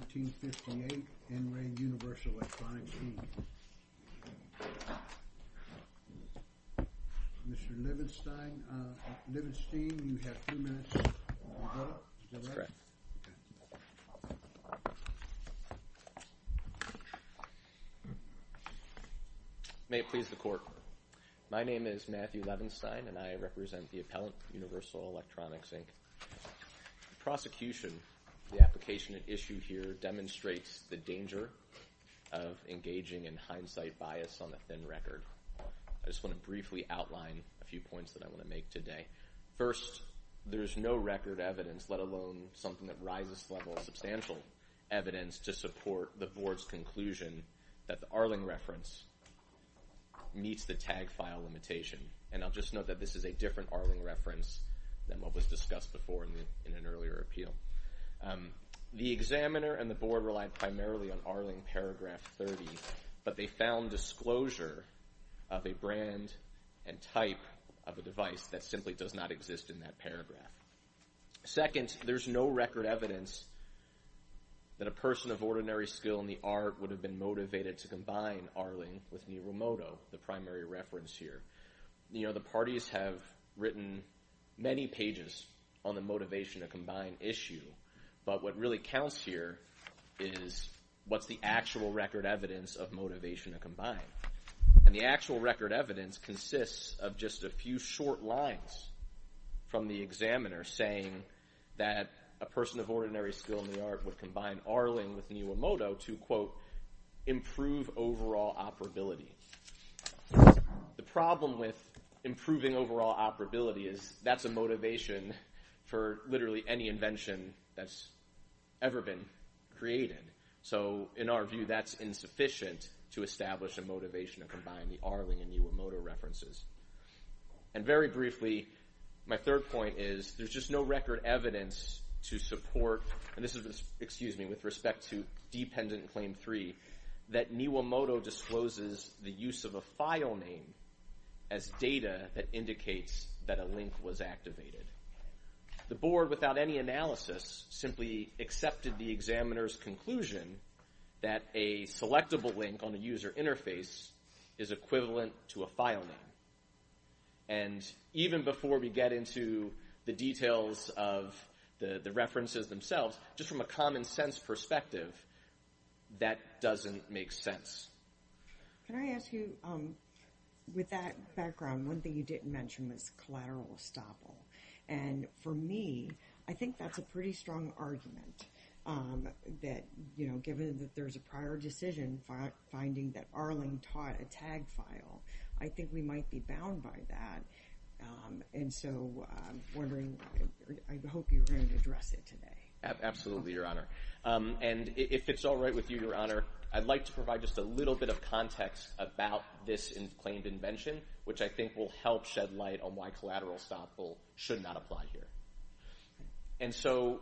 1558 N. Ray Universal Electronics, Inc. Mr. Levenstein, you have two minutes to vote. Is that right? That's correct. OK. May it please the court, my name is Matthew Levenstein, and I represent the appellant, Universal Electronics, Inc. The prosecution, the application at issue here, demonstrates the danger of engaging in hindsight bias on a thin record. I just want to briefly outline a few points that I want to make today. First, there is no record evidence, let alone something that rises to the level of substantial evidence, to support the board's conclusion that the Arling reference meets the tag file limitation. And I'll just note that this is a different Arling reference than what was discussed before in an earlier appeal. The examiner and the board relied primarily on Arling paragraph 30, but they found disclosure of a brand and type of a device that simply does not exist in that paragraph. Second, there's no record evidence that a person of ordinary skill in the art would have been motivated to combine Arling with Niirumoto, the primary reference here. You know, the parties have written many pages on the motivation to combine issue, but what really counts here is what's the actual record evidence of motivation to combine. And the actual record evidence consists of just a few short lines from the examiner saying that a person of ordinary skill in the art would combine Arling with Niirumoto to, quote, improve overall operability. The problem with improving overall operability is that's a motivation for literally any invention that's ever been created. So in our view, that's insufficient to establish a motivation to combine the Arling and Niirumoto references. And very briefly, my third point is there's just no record evidence to support, and this is with respect to Dependent Claim 3, that Niirumoto discloses the use of a file name as data that indicates that a link was activated. The board, without any analysis, simply accepted the examiner's conclusion that a selectable link on a user interface is equivalent to a file name. And even before we get into the details of the references themselves, just from a common-sense perspective, that doesn't make sense. Can I ask you, with that background, one thing you didn't mention was collateral estoppel. And for me, I think that's a pretty strong argument that, you know, given that there's a prior decision finding that Arling taught a tag file, I think we might be bound by that. And so I'm wondering, I hope you're going to address it today. Absolutely, Your Honor. And if it's all right with you, Your Honor, I'd like to provide just a little bit of context about this claimed invention, which I think will help shed light on why collateral estoppel should not apply here. And so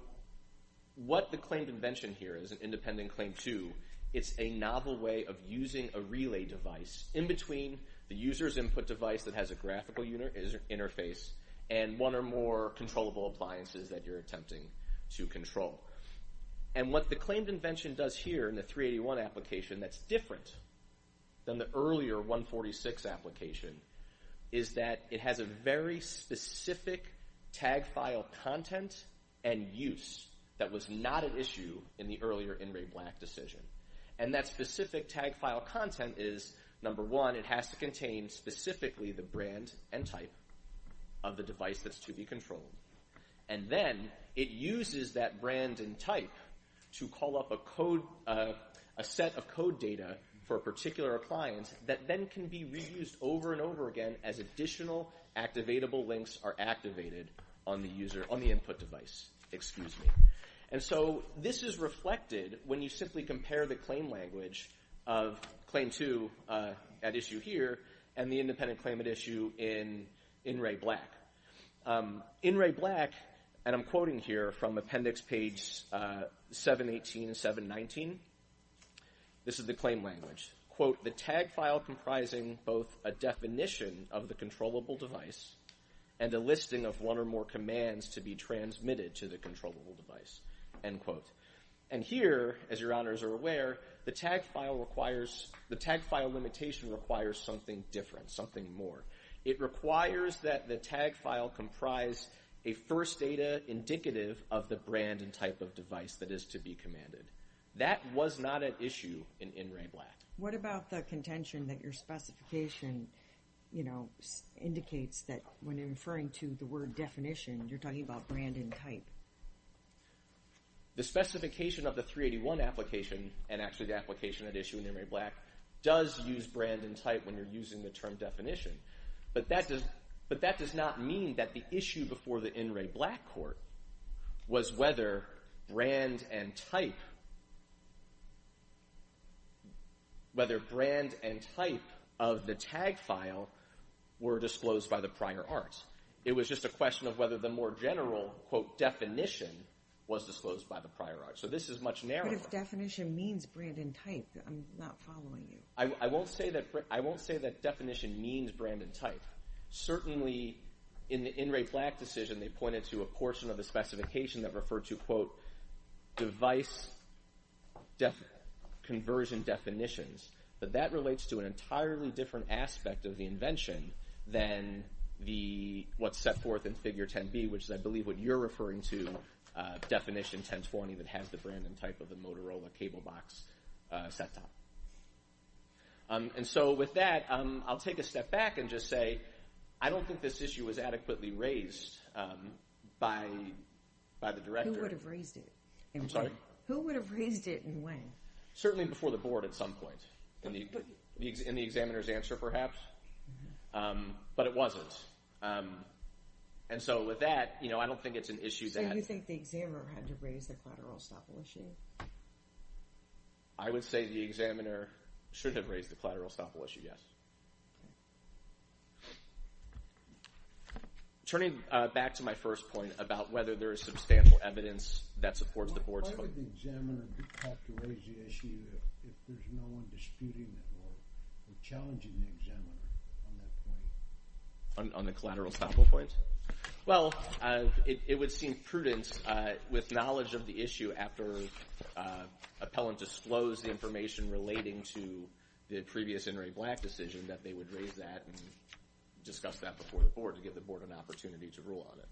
what the claimed invention here is, in Dependent Claim 2, it's a novel way of using a relay device in between the user's input device that has a graphical interface and one or more controllable appliances that you're attempting to control. And what the claimed invention does here in the 381 application that's different than the earlier 146 application is that it has a very specific tag file content and use that was not an issue in the earlier In Re Black decision. And that specific tag file content is, number one, it has to contain specifically the brand and type of the device that's to be controlled. And then it uses that brand and type to call up a code... a set of code data for a particular appliance that then can be reused over and over again as additional activatable links are activated on the user... on the input device. Excuse me. And so this is reflected when you simply compare the claim language of Claim 2 at issue here and the Independent Claim at issue in In Re Black. In Re Black, and I'm quoting here from appendix page 718 and 719, this is the claim language. Quote, "...the tag file comprising both a definition of the controllable device and a listing of one or more commands to be transmitted to the controllable device." End quote. And here, as your honors are aware, the tag file requires... the tag file limitation requires something different, something more. It requires that the tag file comprise a first data indicative of the brand and type of device that is to be commanded. That was not at issue in In Re Black. What about the contention that your specification, you know, indicates that when you're referring to the word definition, you're talking about brand and type? The specification of the 381 application, and actually the application at issue in In Re Black, does use brand and type when you're using the term definition. But that does not mean that the issue before the In Re Black court was whether brand and type... whether brand and type of the tag file were disclosed by the prior arts. It was just a question of whether the more general quote, definition, was disclosed by the prior arts. So this is much narrower. But if definition means brand and type, I'm not following you. I won't say that definition means brand and type. Certainly, in the In Re Black decision, they pointed to a portion of the specification that referred to, quote, device conversion definitions. But that relates to an entirely different aspect of the invention than what's set forth in Figure 10b, which is, I believe, what you're referring to, definition 1020 that has the brand and type of the Motorola cable box set-top. And so with that, I'll take a step back and just say I don't think this issue was adequately raised by the director. Who would have raised it? I'm sorry? Who would have raised it and when? Certainly before the board at some point in the examiner's answer, perhaps. But it wasn't. And so with that, I don't think it's an issue that... So you think the examiner had to raise the collateral estoppel issue? I would say the examiner should have raised the collateral estoppel issue, yes. Turning back to my first point about whether there is substantial evidence that supports the board's... What part would the examiner have to raise the issue if there's no one disputing or challenging the examiner on that point? On the collateral estoppel point? Well, it would seem prudent with knowledge of the issue after appellant disclosed the information relating to the previous In re Black decision that they would raise that and discuss that before the board to give the board an opportunity to rule on it.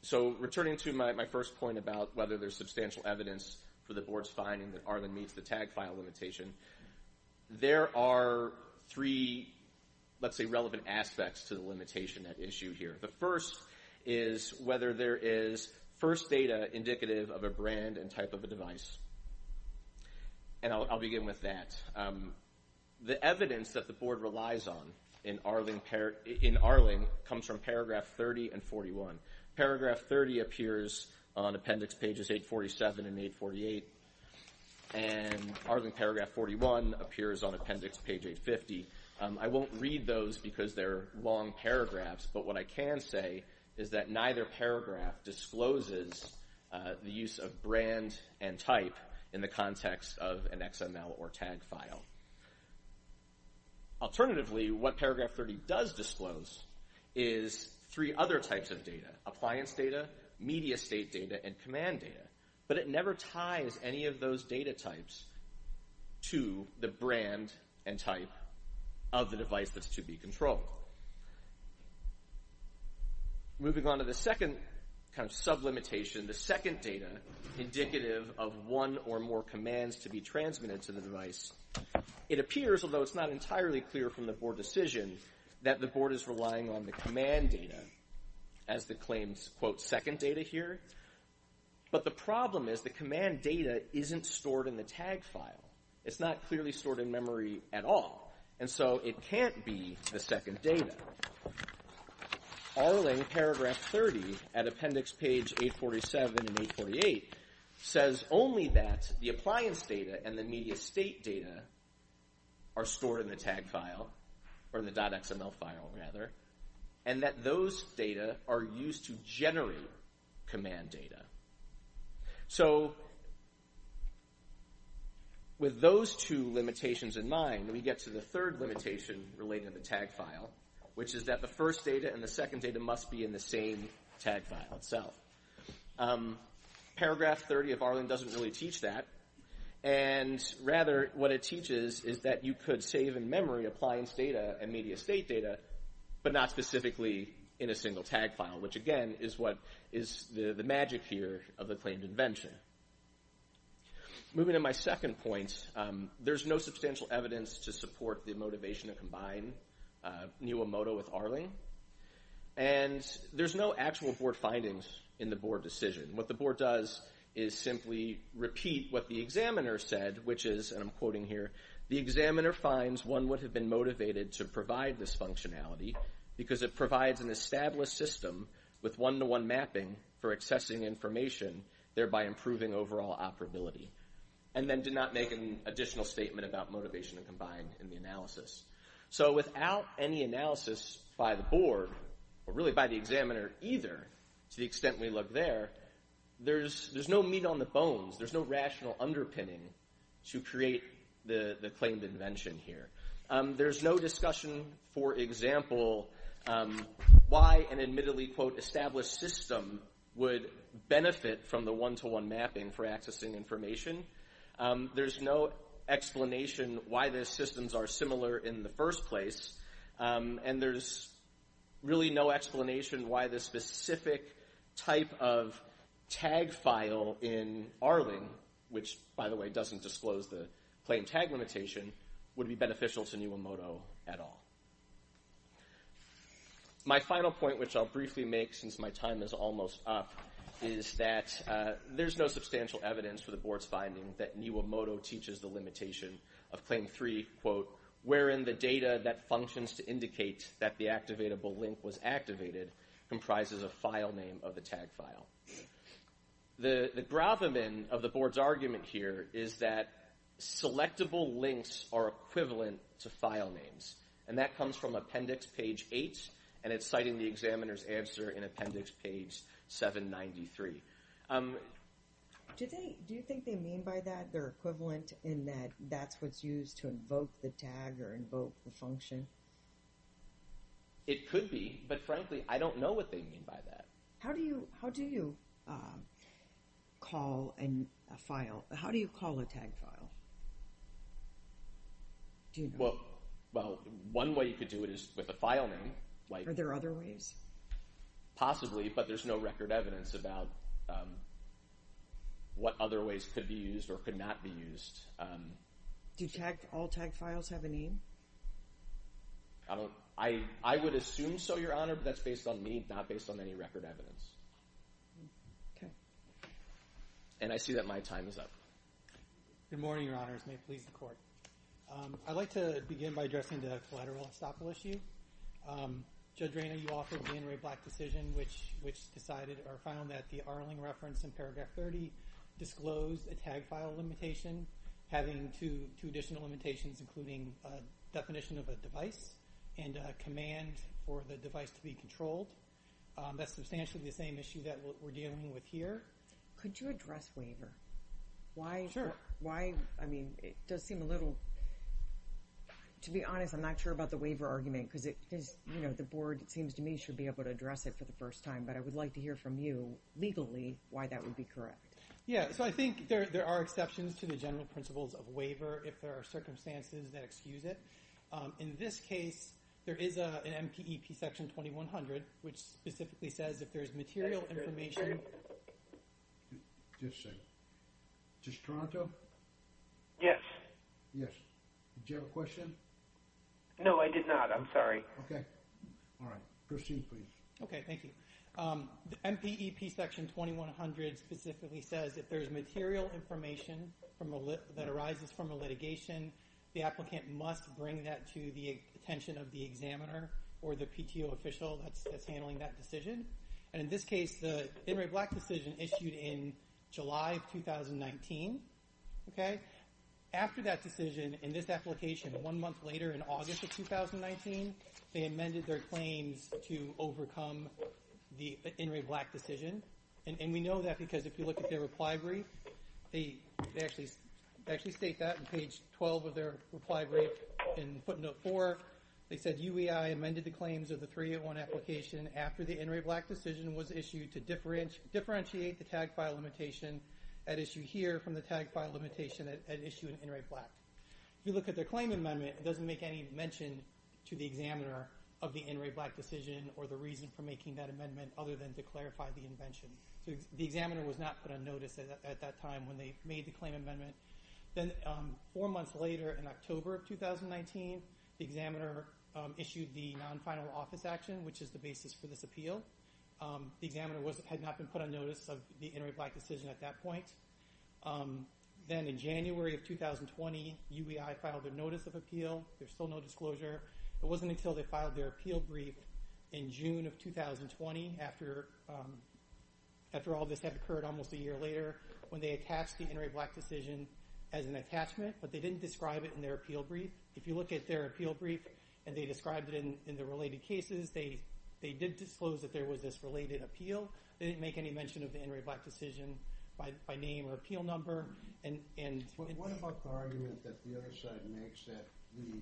So returning to my first point about whether there's substantial evidence for the board's finding that Arlen meets the tag file limitation, there are three, let's say, relevant aspects to the limitation at issue here. The first is whether there is first data indicative of a brand and type of a device. And I'll begin with that. The evidence that the board relies on in Arling comes from paragraph 30 and 41. Paragraph 30 appears on appendix pages 847 and 848, and Arling paragraph 41 appears on appendix page 850. I won't read those because they're long paragraphs, but what I can say is that neither paragraph discloses the use of brand and type in the context of an XML or tag file. Alternatively, what paragraph 30 does disclose is three other types of data. Appliance data, media state data, and command data. But it never ties any of those data types to the brand and type of the device that's to be controlled. So moving on to the second kind of sublimitation, the second data indicative of one or more commands to be transmitted to the device. It appears, although it's not entirely clear from the board decision, that the board is relying on the command data as the claims, quote, second data here. But the problem is the command data isn't stored in the tag file. It's not clearly stored in memory at all. And so it can't be the second data. Arling paragraph 30 at appendix page 847 and 848 says only that the appliance data and the media state data are stored in the tag file, or the .xml file, rather, and that those data are used to generate command data. So with those two limitations in mind, we get to the third limitation related to the tag file, which is that the first data and the second data must be in the same tag file itself. Paragraph 30 of Arling doesn't really teach that. And rather, what it teaches is that you could save in memory appliance data and media state data, but not specifically in a single tag file, which, again, is what is the magic here of the claimed invention. Moving to my second point, there's no substantial evidence to support the motivation to combine Niwamoto with Arling, and there's no actual board findings in the board decision. What the board does is simply repeat what the examiner said, which is, and I'm quoting here, the examiner finds one would have been motivated to provide this functionality because it provides an established system with one-to-one mapping for accessing information, thereby improving overall operability, and then did not make an additional statement about motivation to combine in the analysis. So without any analysis by the board, or really by the examiner either, to the extent we look there, there's no meat on the bones. There's no rational underpinning to create the claimed invention here. There's no discussion, for example, why an admittedly, quote, established system would benefit from the one-to-one mapping for accessing information. There's no explanation why the systems are similar in the first place, and there's really no explanation why the specific type of tag file in Arling, which, by the way, doesn't disclose the claimed tag limitation, would be beneficial to Niwamoto at all. My final point, which I'll briefly make since my time is almost up, is that there's no substantial evidence for the board's finding that Niwamoto teaches the limitation of Claim 3, quote, wherein the data that functions to indicate that the activatable link was activated comprises a file name of the tag file. The gravamen of the board's argument here is that selectable links are equivalent to file names, and that comes from Appendix Page 8, and it's cited in the examiner's answer in Appendix Page 793. Do you think they mean by that they're equivalent in that that's what's used to invoke the tag or invoke the function? It could be, but frankly, I don't know what they mean by that. How do you call a tag file? Well, one way you could do it is with a file name. Are there other ways? Possibly, but there's no record evidence about what other ways could be used or could not be used. Do all tag files have a name? I would assume so, Your Honor, but that's based on me, not based on any record evidence. Okay. And I see that my time is up. Good morning, Your Honors. May it please the Court. I'd like to begin by addressing the collateral estoppel issue. Judge Rayner, you offered the Inouye Black decision, which decided or found that the Arling reference in Paragraph 30 disclosed a tag file limitation having two additional limitations, including a definition of a device and a command for the device to be controlled. That's substantially the same issue that we're dealing with here. Could you address waiver? Sure. Why? I mean, it does seem a little... To be honest, I'm not sure about the waiver argument because the Board, it seems to me, should be able to address it for the first time, but I would like to hear from you, legally, why that would be correct. Yeah, so I think there are exceptions to the general principles of waiver if there are circumstances that excuse it. In this case, there is an MPEP Section 2100, which specifically says if there's material information... Just a second. Is this Toronto? Yes. Yes. Did you have a question? No, I did not. I'm sorry. Okay. All right. Christine, please. Okay, thank you. The MPEP Section 2100 specifically says if there's material information that arises from a litigation, the applicant must bring that to the attention of the examiner or the PTO official that's handling that decision. And in this case, the In Re Black decision issued in July of 2019. Okay? After that decision, in this application, one month later in August of 2019, they amended their claims to overcome the In Re Black decision. And we know that because if you look at their reply brief, they actually state that on page 12 of their reply brief in footnote 4. They said, UEI amended the claims of the 301 application after the In Re Black decision was issued to differentiate the tag file limitation at issue here from the tag file limitation at issue in In Re Black. If you look at their claim amendment, it doesn't make any mention to the examiner of the In Re Black decision or the reason for making that amendment other than to clarify the invention. So the examiner was not put on notice at that time when they made the claim amendment. Then four months later in October of 2019, the examiner issued the non-final office action, which is the basis for this appeal. The examiner had not been put on notice of the In Re Black decision at that point. Then in January of 2020, UEI filed a notice of appeal. There's still no disclosure. It wasn't until they filed their appeal brief in June of 2020, after all this had occurred almost a year later, when they attached the In Re Black decision as an attachment, but they didn't describe it in their appeal brief. If you look at their appeal brief and they describe it in the related cases, they did disclose that there was this related appeal. They didn't make any mention of the In Re Black decision by name or appeal number. What about the argument that the other side makes that the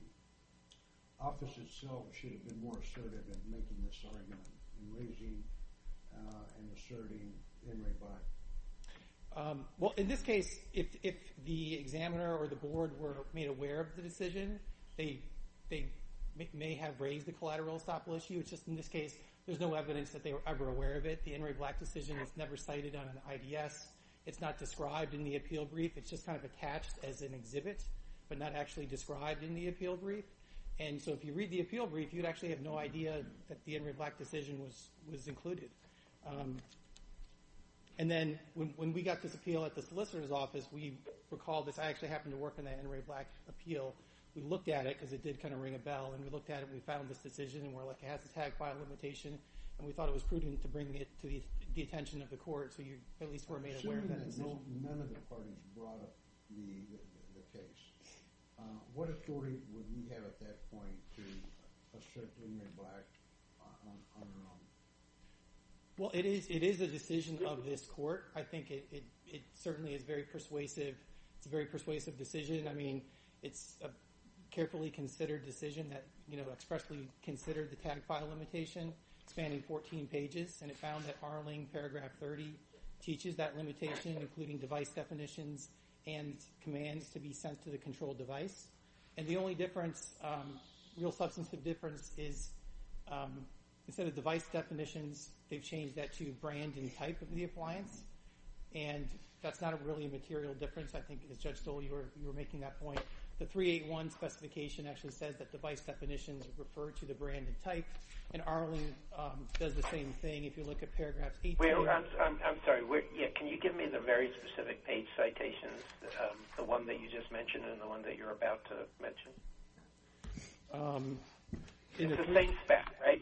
office itself should have been more assertive in making this argument and raising and asserting In Re Black? Well, in this case, if the examiner or the board were made aware of the decision, they may have raised the collateral estoppel issue. It's just in this case, there's no evidence that they were ever aware of it. The In Re Black decision was never cited on an IDS. It's not described in the appeal brief. It's just kind of attached as an exhibit, but not actually described in the appeal brief. So if you read the appeal brief, you'd actually have no idea that the In Re Black decision was included. Then when we got this appeal at the solicitor's office, we recalled this. I actually happened to work on that In Re Black appeal. We looked at it, because it did kind of ring a bell, and we looked at it, and we found this decision, and we're like, it has a tag file limitation, and we thought it was prudent to bring it to the attention of the court, so you at least were made aware of that decision. Assuming that none of the parties brought up the case, what authority would you have at that point to assert In Re Black on their own? Well, it is a decision of this court. I think it certainly is very persuasive. It's a very persuasive decision. I mean, it's a carefully considered decision that expressly considered the tag file limitation, spanning 14 pages, and it found that Arling, paragraph 30, teaches that limitation, including device definitions and commands to be sent to the control device. And the only difference, real substantive difference, is instead of device definitions, they've changed that to brand and type of the appliance, and that's not really a material difference. I think, as Judge Stoll, you were making that point. The 381 specification actually says that device definitions refer to the brand and type, and Arling does the same thing. If you look at paragraph 80... I'm sorry. Can you give me the very specific page citations, the one that you just mentioned and the one that you're about to mention? It's the same spec, right?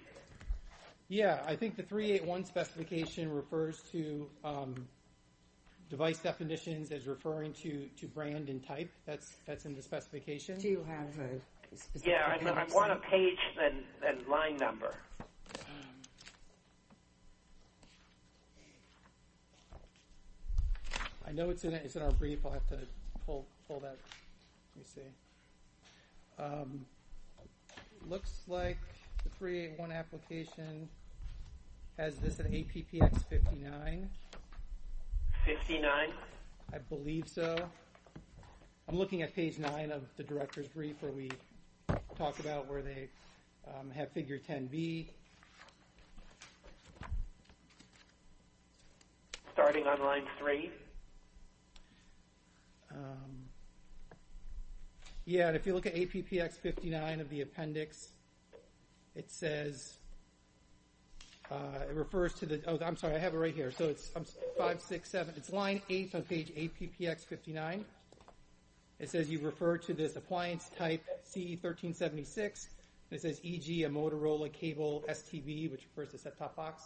Yeah, I think the 381 specification refers to device definitions as referring to brand and type. That's in the specification. Do you have a specific... Yeah, I want a page and line number. I know it's in our brief. I'll have to pull that. Let me see. Looks like the 381 application has this at APPX 59. 59? I believe so. I'm looking at page 9 of the director's brief where we talk about where they have figure 10B. Starting on line 3. Yeah, and if you look at APPX 59 of the appendix, it says... It refers to the... Oh, I'm sorry. I have it right here. So it's 5, 6, 7. It's line 8 on page APPX 59. It says you refer to this appliance type CE1376. It says EG, a Motorola cable STB, which refers to set-top box.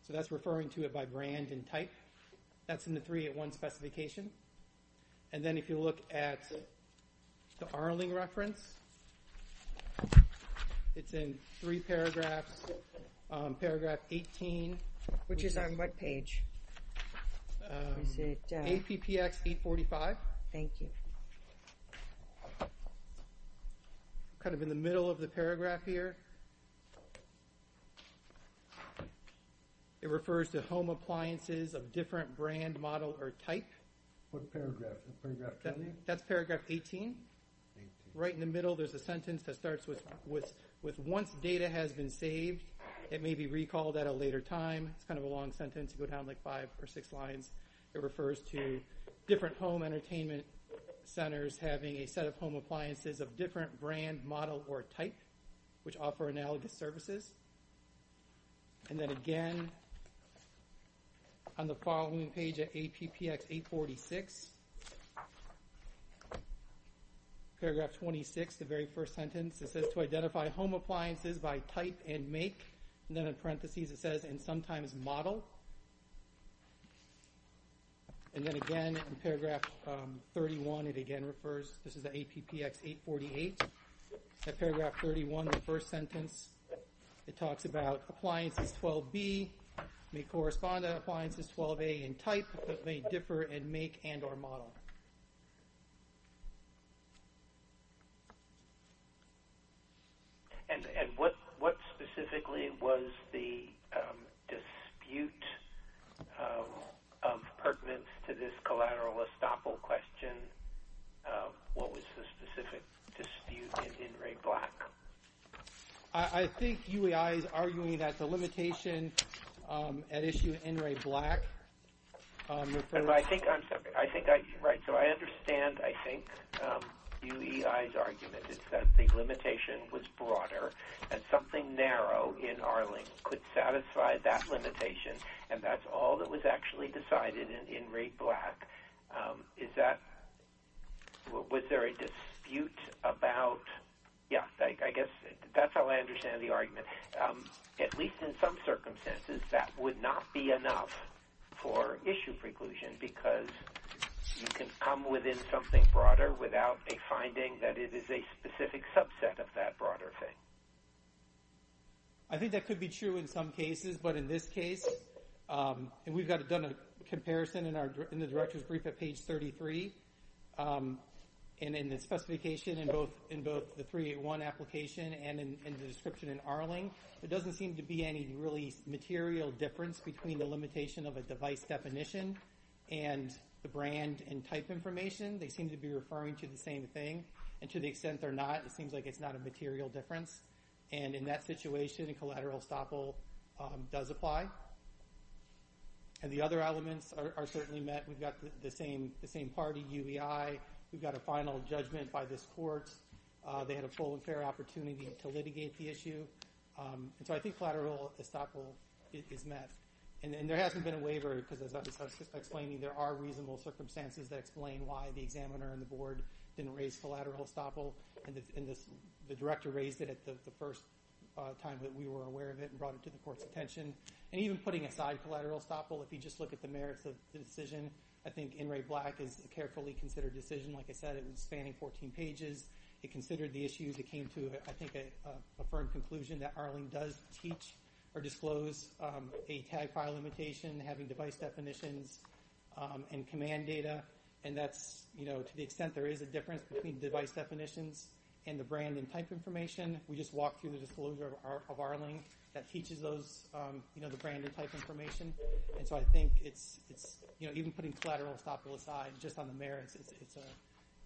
So that's referring to it by brand and type. That's in the 381 specification. And then if you look at the Arling reference, it's in three paragraphs. Paragraph 18. Which is on what page? APPX 845. Thank you. Kind of in the middle of the paragraph here. It refers to home appliances of different brand, model, or type. What paragraph? Paragraph 20? That's paragraph 18. Right in the middle, there's a sentence that starts with, once data has been saved, it may be recalled at a later time. It's kind of a long sentence. You go down like five or six lines. It refers to different home entertainment centers having a set of home appliances of different brand, model, or type, which offer analogous services. And then, again, on the following page at APPX 846, paragraph 26, the very first sentence, it says to identify home appliances by type and make. And then in parentheses, it says, and sometimes model. And then, again, in paragraph 31, it again refers. This is the APPX 848. At paragraph 31, the first sentence, it talks about appliances 12B, may correspond to appliances 12A in type, but may differ in make and or model. And what specifically was the dispute of pertinence to this collateral estoppel question? What was the specific dispute in in-rate black? I think UEI is arguing that the limitation at issue in-rate black. I'm sorry. Right, so I understand, I think, UEI's argument is that the limitation was broader and something narrow in Arlington could satisfy that limitation, and that's all that was actually decided in in-rate black. Is that, was there a dispute about, yeah, I guess that's how I understand the argument. At least in some circumstances, that would not be enough for issue preclusion because you can come within something broader without a finding that it is a specific subset of that broader thing. I think that could be true in some cases, but in this case, and we've done a comparison in the director's brief at page 33, and in the specification in both the 381 application and in the description in Arlington, there doesn't seem to be any really material difference between the limitation of a device definition and the brand and type information. They seem to be referring to the same thing, and to the extent they're not, it seems like it's not a material difference. And in that situation, collateral estoppel does apply. And the other elements are certainly met. We've got the same party, UEI. We've got a final judgment by this court. They had a full and fair opportunity to litigate the issue. And so I think collateral estoppel is met. And there hasn't been a waiver because, as I was explaining, there are reasonable circumstances that explain why the examiner and the board didn't raise collateral estoppel, and the director raised it at the first time that we were aware of it and brought it to the court's attention. And even putting aside collateral estoppel, if you just look at the merits of the decision, I think NRA Black is a carefully considered decision. Like I said, it was spanning 14 pages. It considered the issues. It came to, I think, a firm conclusion that Arlington does teach or disclose a tag file limitation, having device definitions and command data. And that's, you know, to the extent there is a difference between device definitions and the brand and type information, we just walk through the disclosure of Arlington that teaches those, you know, the brand and type information. And so I think it's, you know, even putting collateral estoppel aside just on the merits,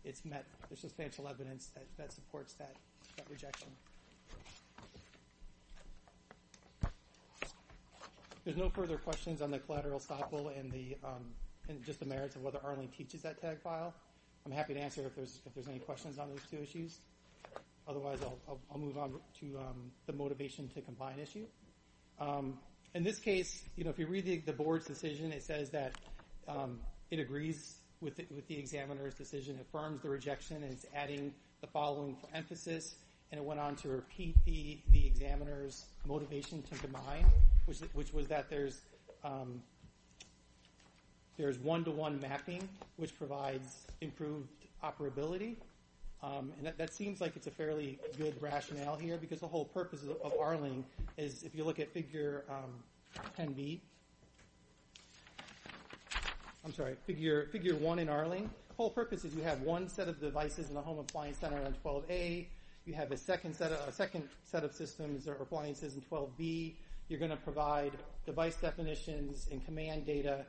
it's met the substantial evidence that supports that rejection. There's no further questions on the collateral estoppel and just the merits of whether Arlington teaches that tag file. I'm happy to answer if there's any questions on those two issues. Otherwise I'll move on to the motivation to combine issue. In this case, you know, if you read the board's decision, it says that it agrees with the examiner's decision, affirms the rejection and is adding the following for emphasis. And it went on to repeat the examiner's motivation to combine, which was that there's one-to-one mapping, which provides improved operability. And that seems like it's a fairly good rationale here because the whole purpose of Arlington is if you look at figure 10B, I'm sorry, figure one in Arlington, the whole purpose is you have one set of devices in the home appliance center on 12A. You have a second set of systems or appliances in 12B. You're going to provide device definitions and command data,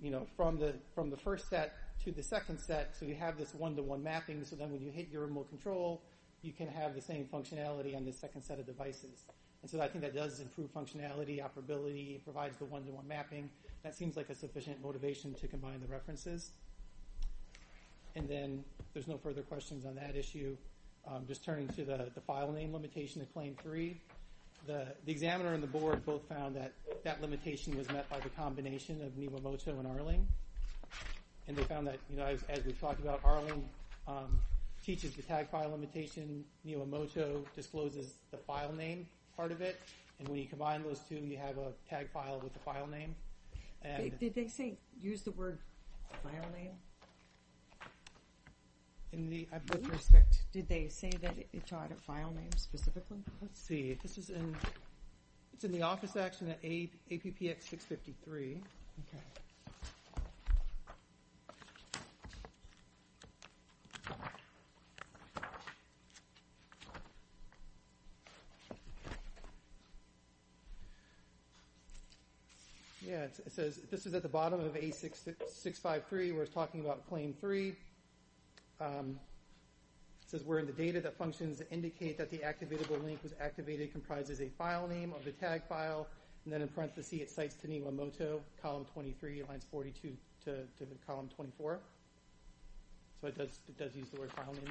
you know, from the first set to the second set. So you have this one-to-one mapping. So then when you hit your remote control, you can have the same functionality on the second set of devices. And so I think that does improve functionality, operability, provides the one-to-one mapping. That seems like a sufficient motivation to combine the references. And then there's no further questions on that issue. Just turning to the file name limitation in claim three, the examiner and the board both found that that limitation was met by the combination of Niwamoto and Arlington. And they found that, you know, as we've talked about, Arlington teaches the tag file limitation. Niwamoto discloses the file name part of it. And when you combine those two, you have a tag file with the file name. Did they say use the word file name? With respect, did they say that it taught a file name specifically? Let's see. This is in the office action at APPX 653. Okay. Let's see. Yeah, it says this is at the bottom of A653. We're talking about claim three. It says we're in the data that functions indicate that the activatable link was activated, comprises a file name of the tag file. And then in parentheses it cites to Niwamoto, column 23, lines 42 to column 24. So it does use the word file name there.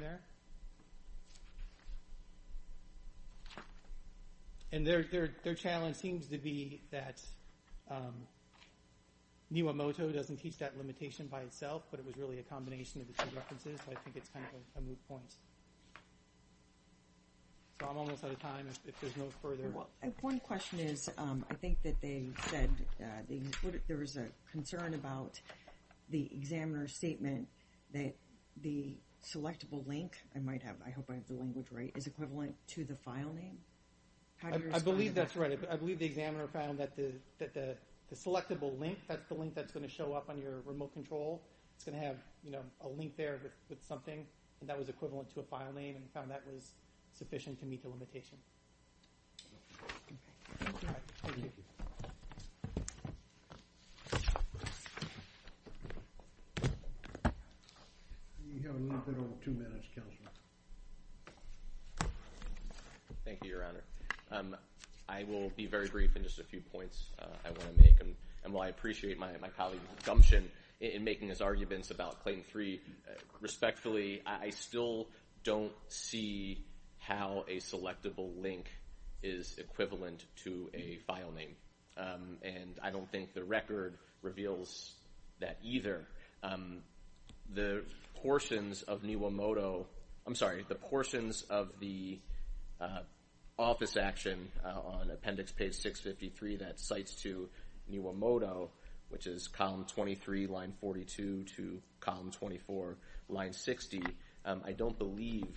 And their challenge seems to be that Niwamoto doesn't teach that limitation by itself, but it was really a combination of the two references. So I think it's kind of a moot point. So I'm almost out of time if there's no further. Well, one question is I think that they said there was a concern about the examiner's statement that the selectable link I might have, I hope I have the language right, is equivalent to the file name. How do you respond to that? I believe that's right. I believe the examiner found that the selectable link, that's the link that's going to show up on your remote control, it's going to have a link there with something, and that was equivalent to a file name, and found that was sufficient to meet the limitation. Thank you. You have a little bit over two minutes, Counselor. Thank you, Your Honor. I will be very brief in just a few points I want to make, and while I appreciate my colleague Gumption in making his arguments about Claim 3 respectfully, I still don't see how a selectable link is equivalent to a file name, and I don't think the record reveals that either. The portions of Niwamoto, I'm sorry, the portions of the office action on appendix page 653 that cites to Niwamoto, which is column 23, line 42 to column 24, line 60, I don't believe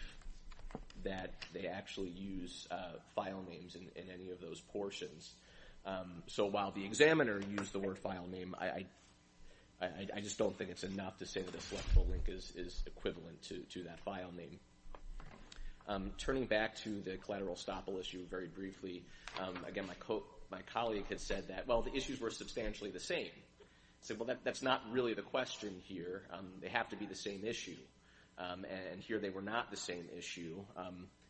that they actually use file names in any of those portions. So while the examiner used the word file name, I just don't think it's enough to say that a selectable link is equivalent to that file name. Turning back to the collateral estoppel issue very briefly, again, my colleague has said that, well, the issues were substantially the same. I said, well, that's not really the question here. They have to be the same issue. And here they were not the same issue,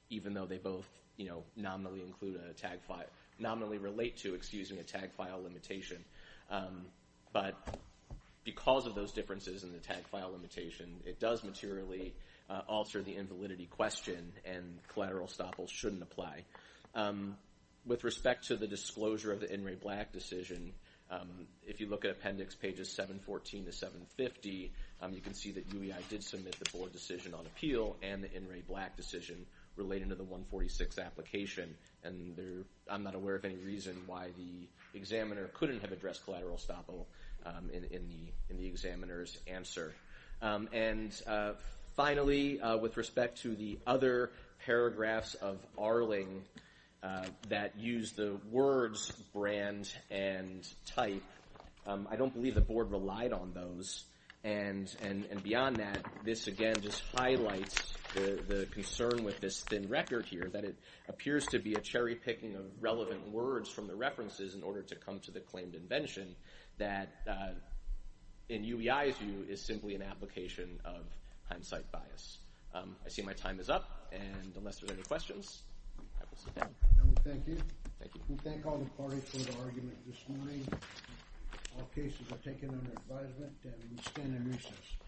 even though they both nominally include a tag file, nominally relate to, excuse me, a tag file limitation. But because of those differences in the tag file limitation, it does materially alter the invalidity question, and collateral estoppel shouldn't apply. With respect to the disclosure of the In re Black decision, if you look at Appendix pages 714 to 750, you can see that UEI did submit the board decision on appeal and the In re Black decision relating to the 146 application, and I'm not aware of any reason why the examiner couldn't have addressed collateral estoppel in the examiner's answer. And finally, with respect to the other paragraphs of Arling that use the words brand and type, I don't believe the board relied on those. And beyond that, this again just highlights the concern with this thin record here, that it appears to be a cherry-picking of relevant words from the references in order to come to the claimed invention that, in UEI's view, is simply an application of hindsight bias. I see my time is up, and unless there are any questions, I will sit down. Thank you. Thank you. We thank all the parties for their argument this morning. All cases are taken under advisement, and we stand in recess.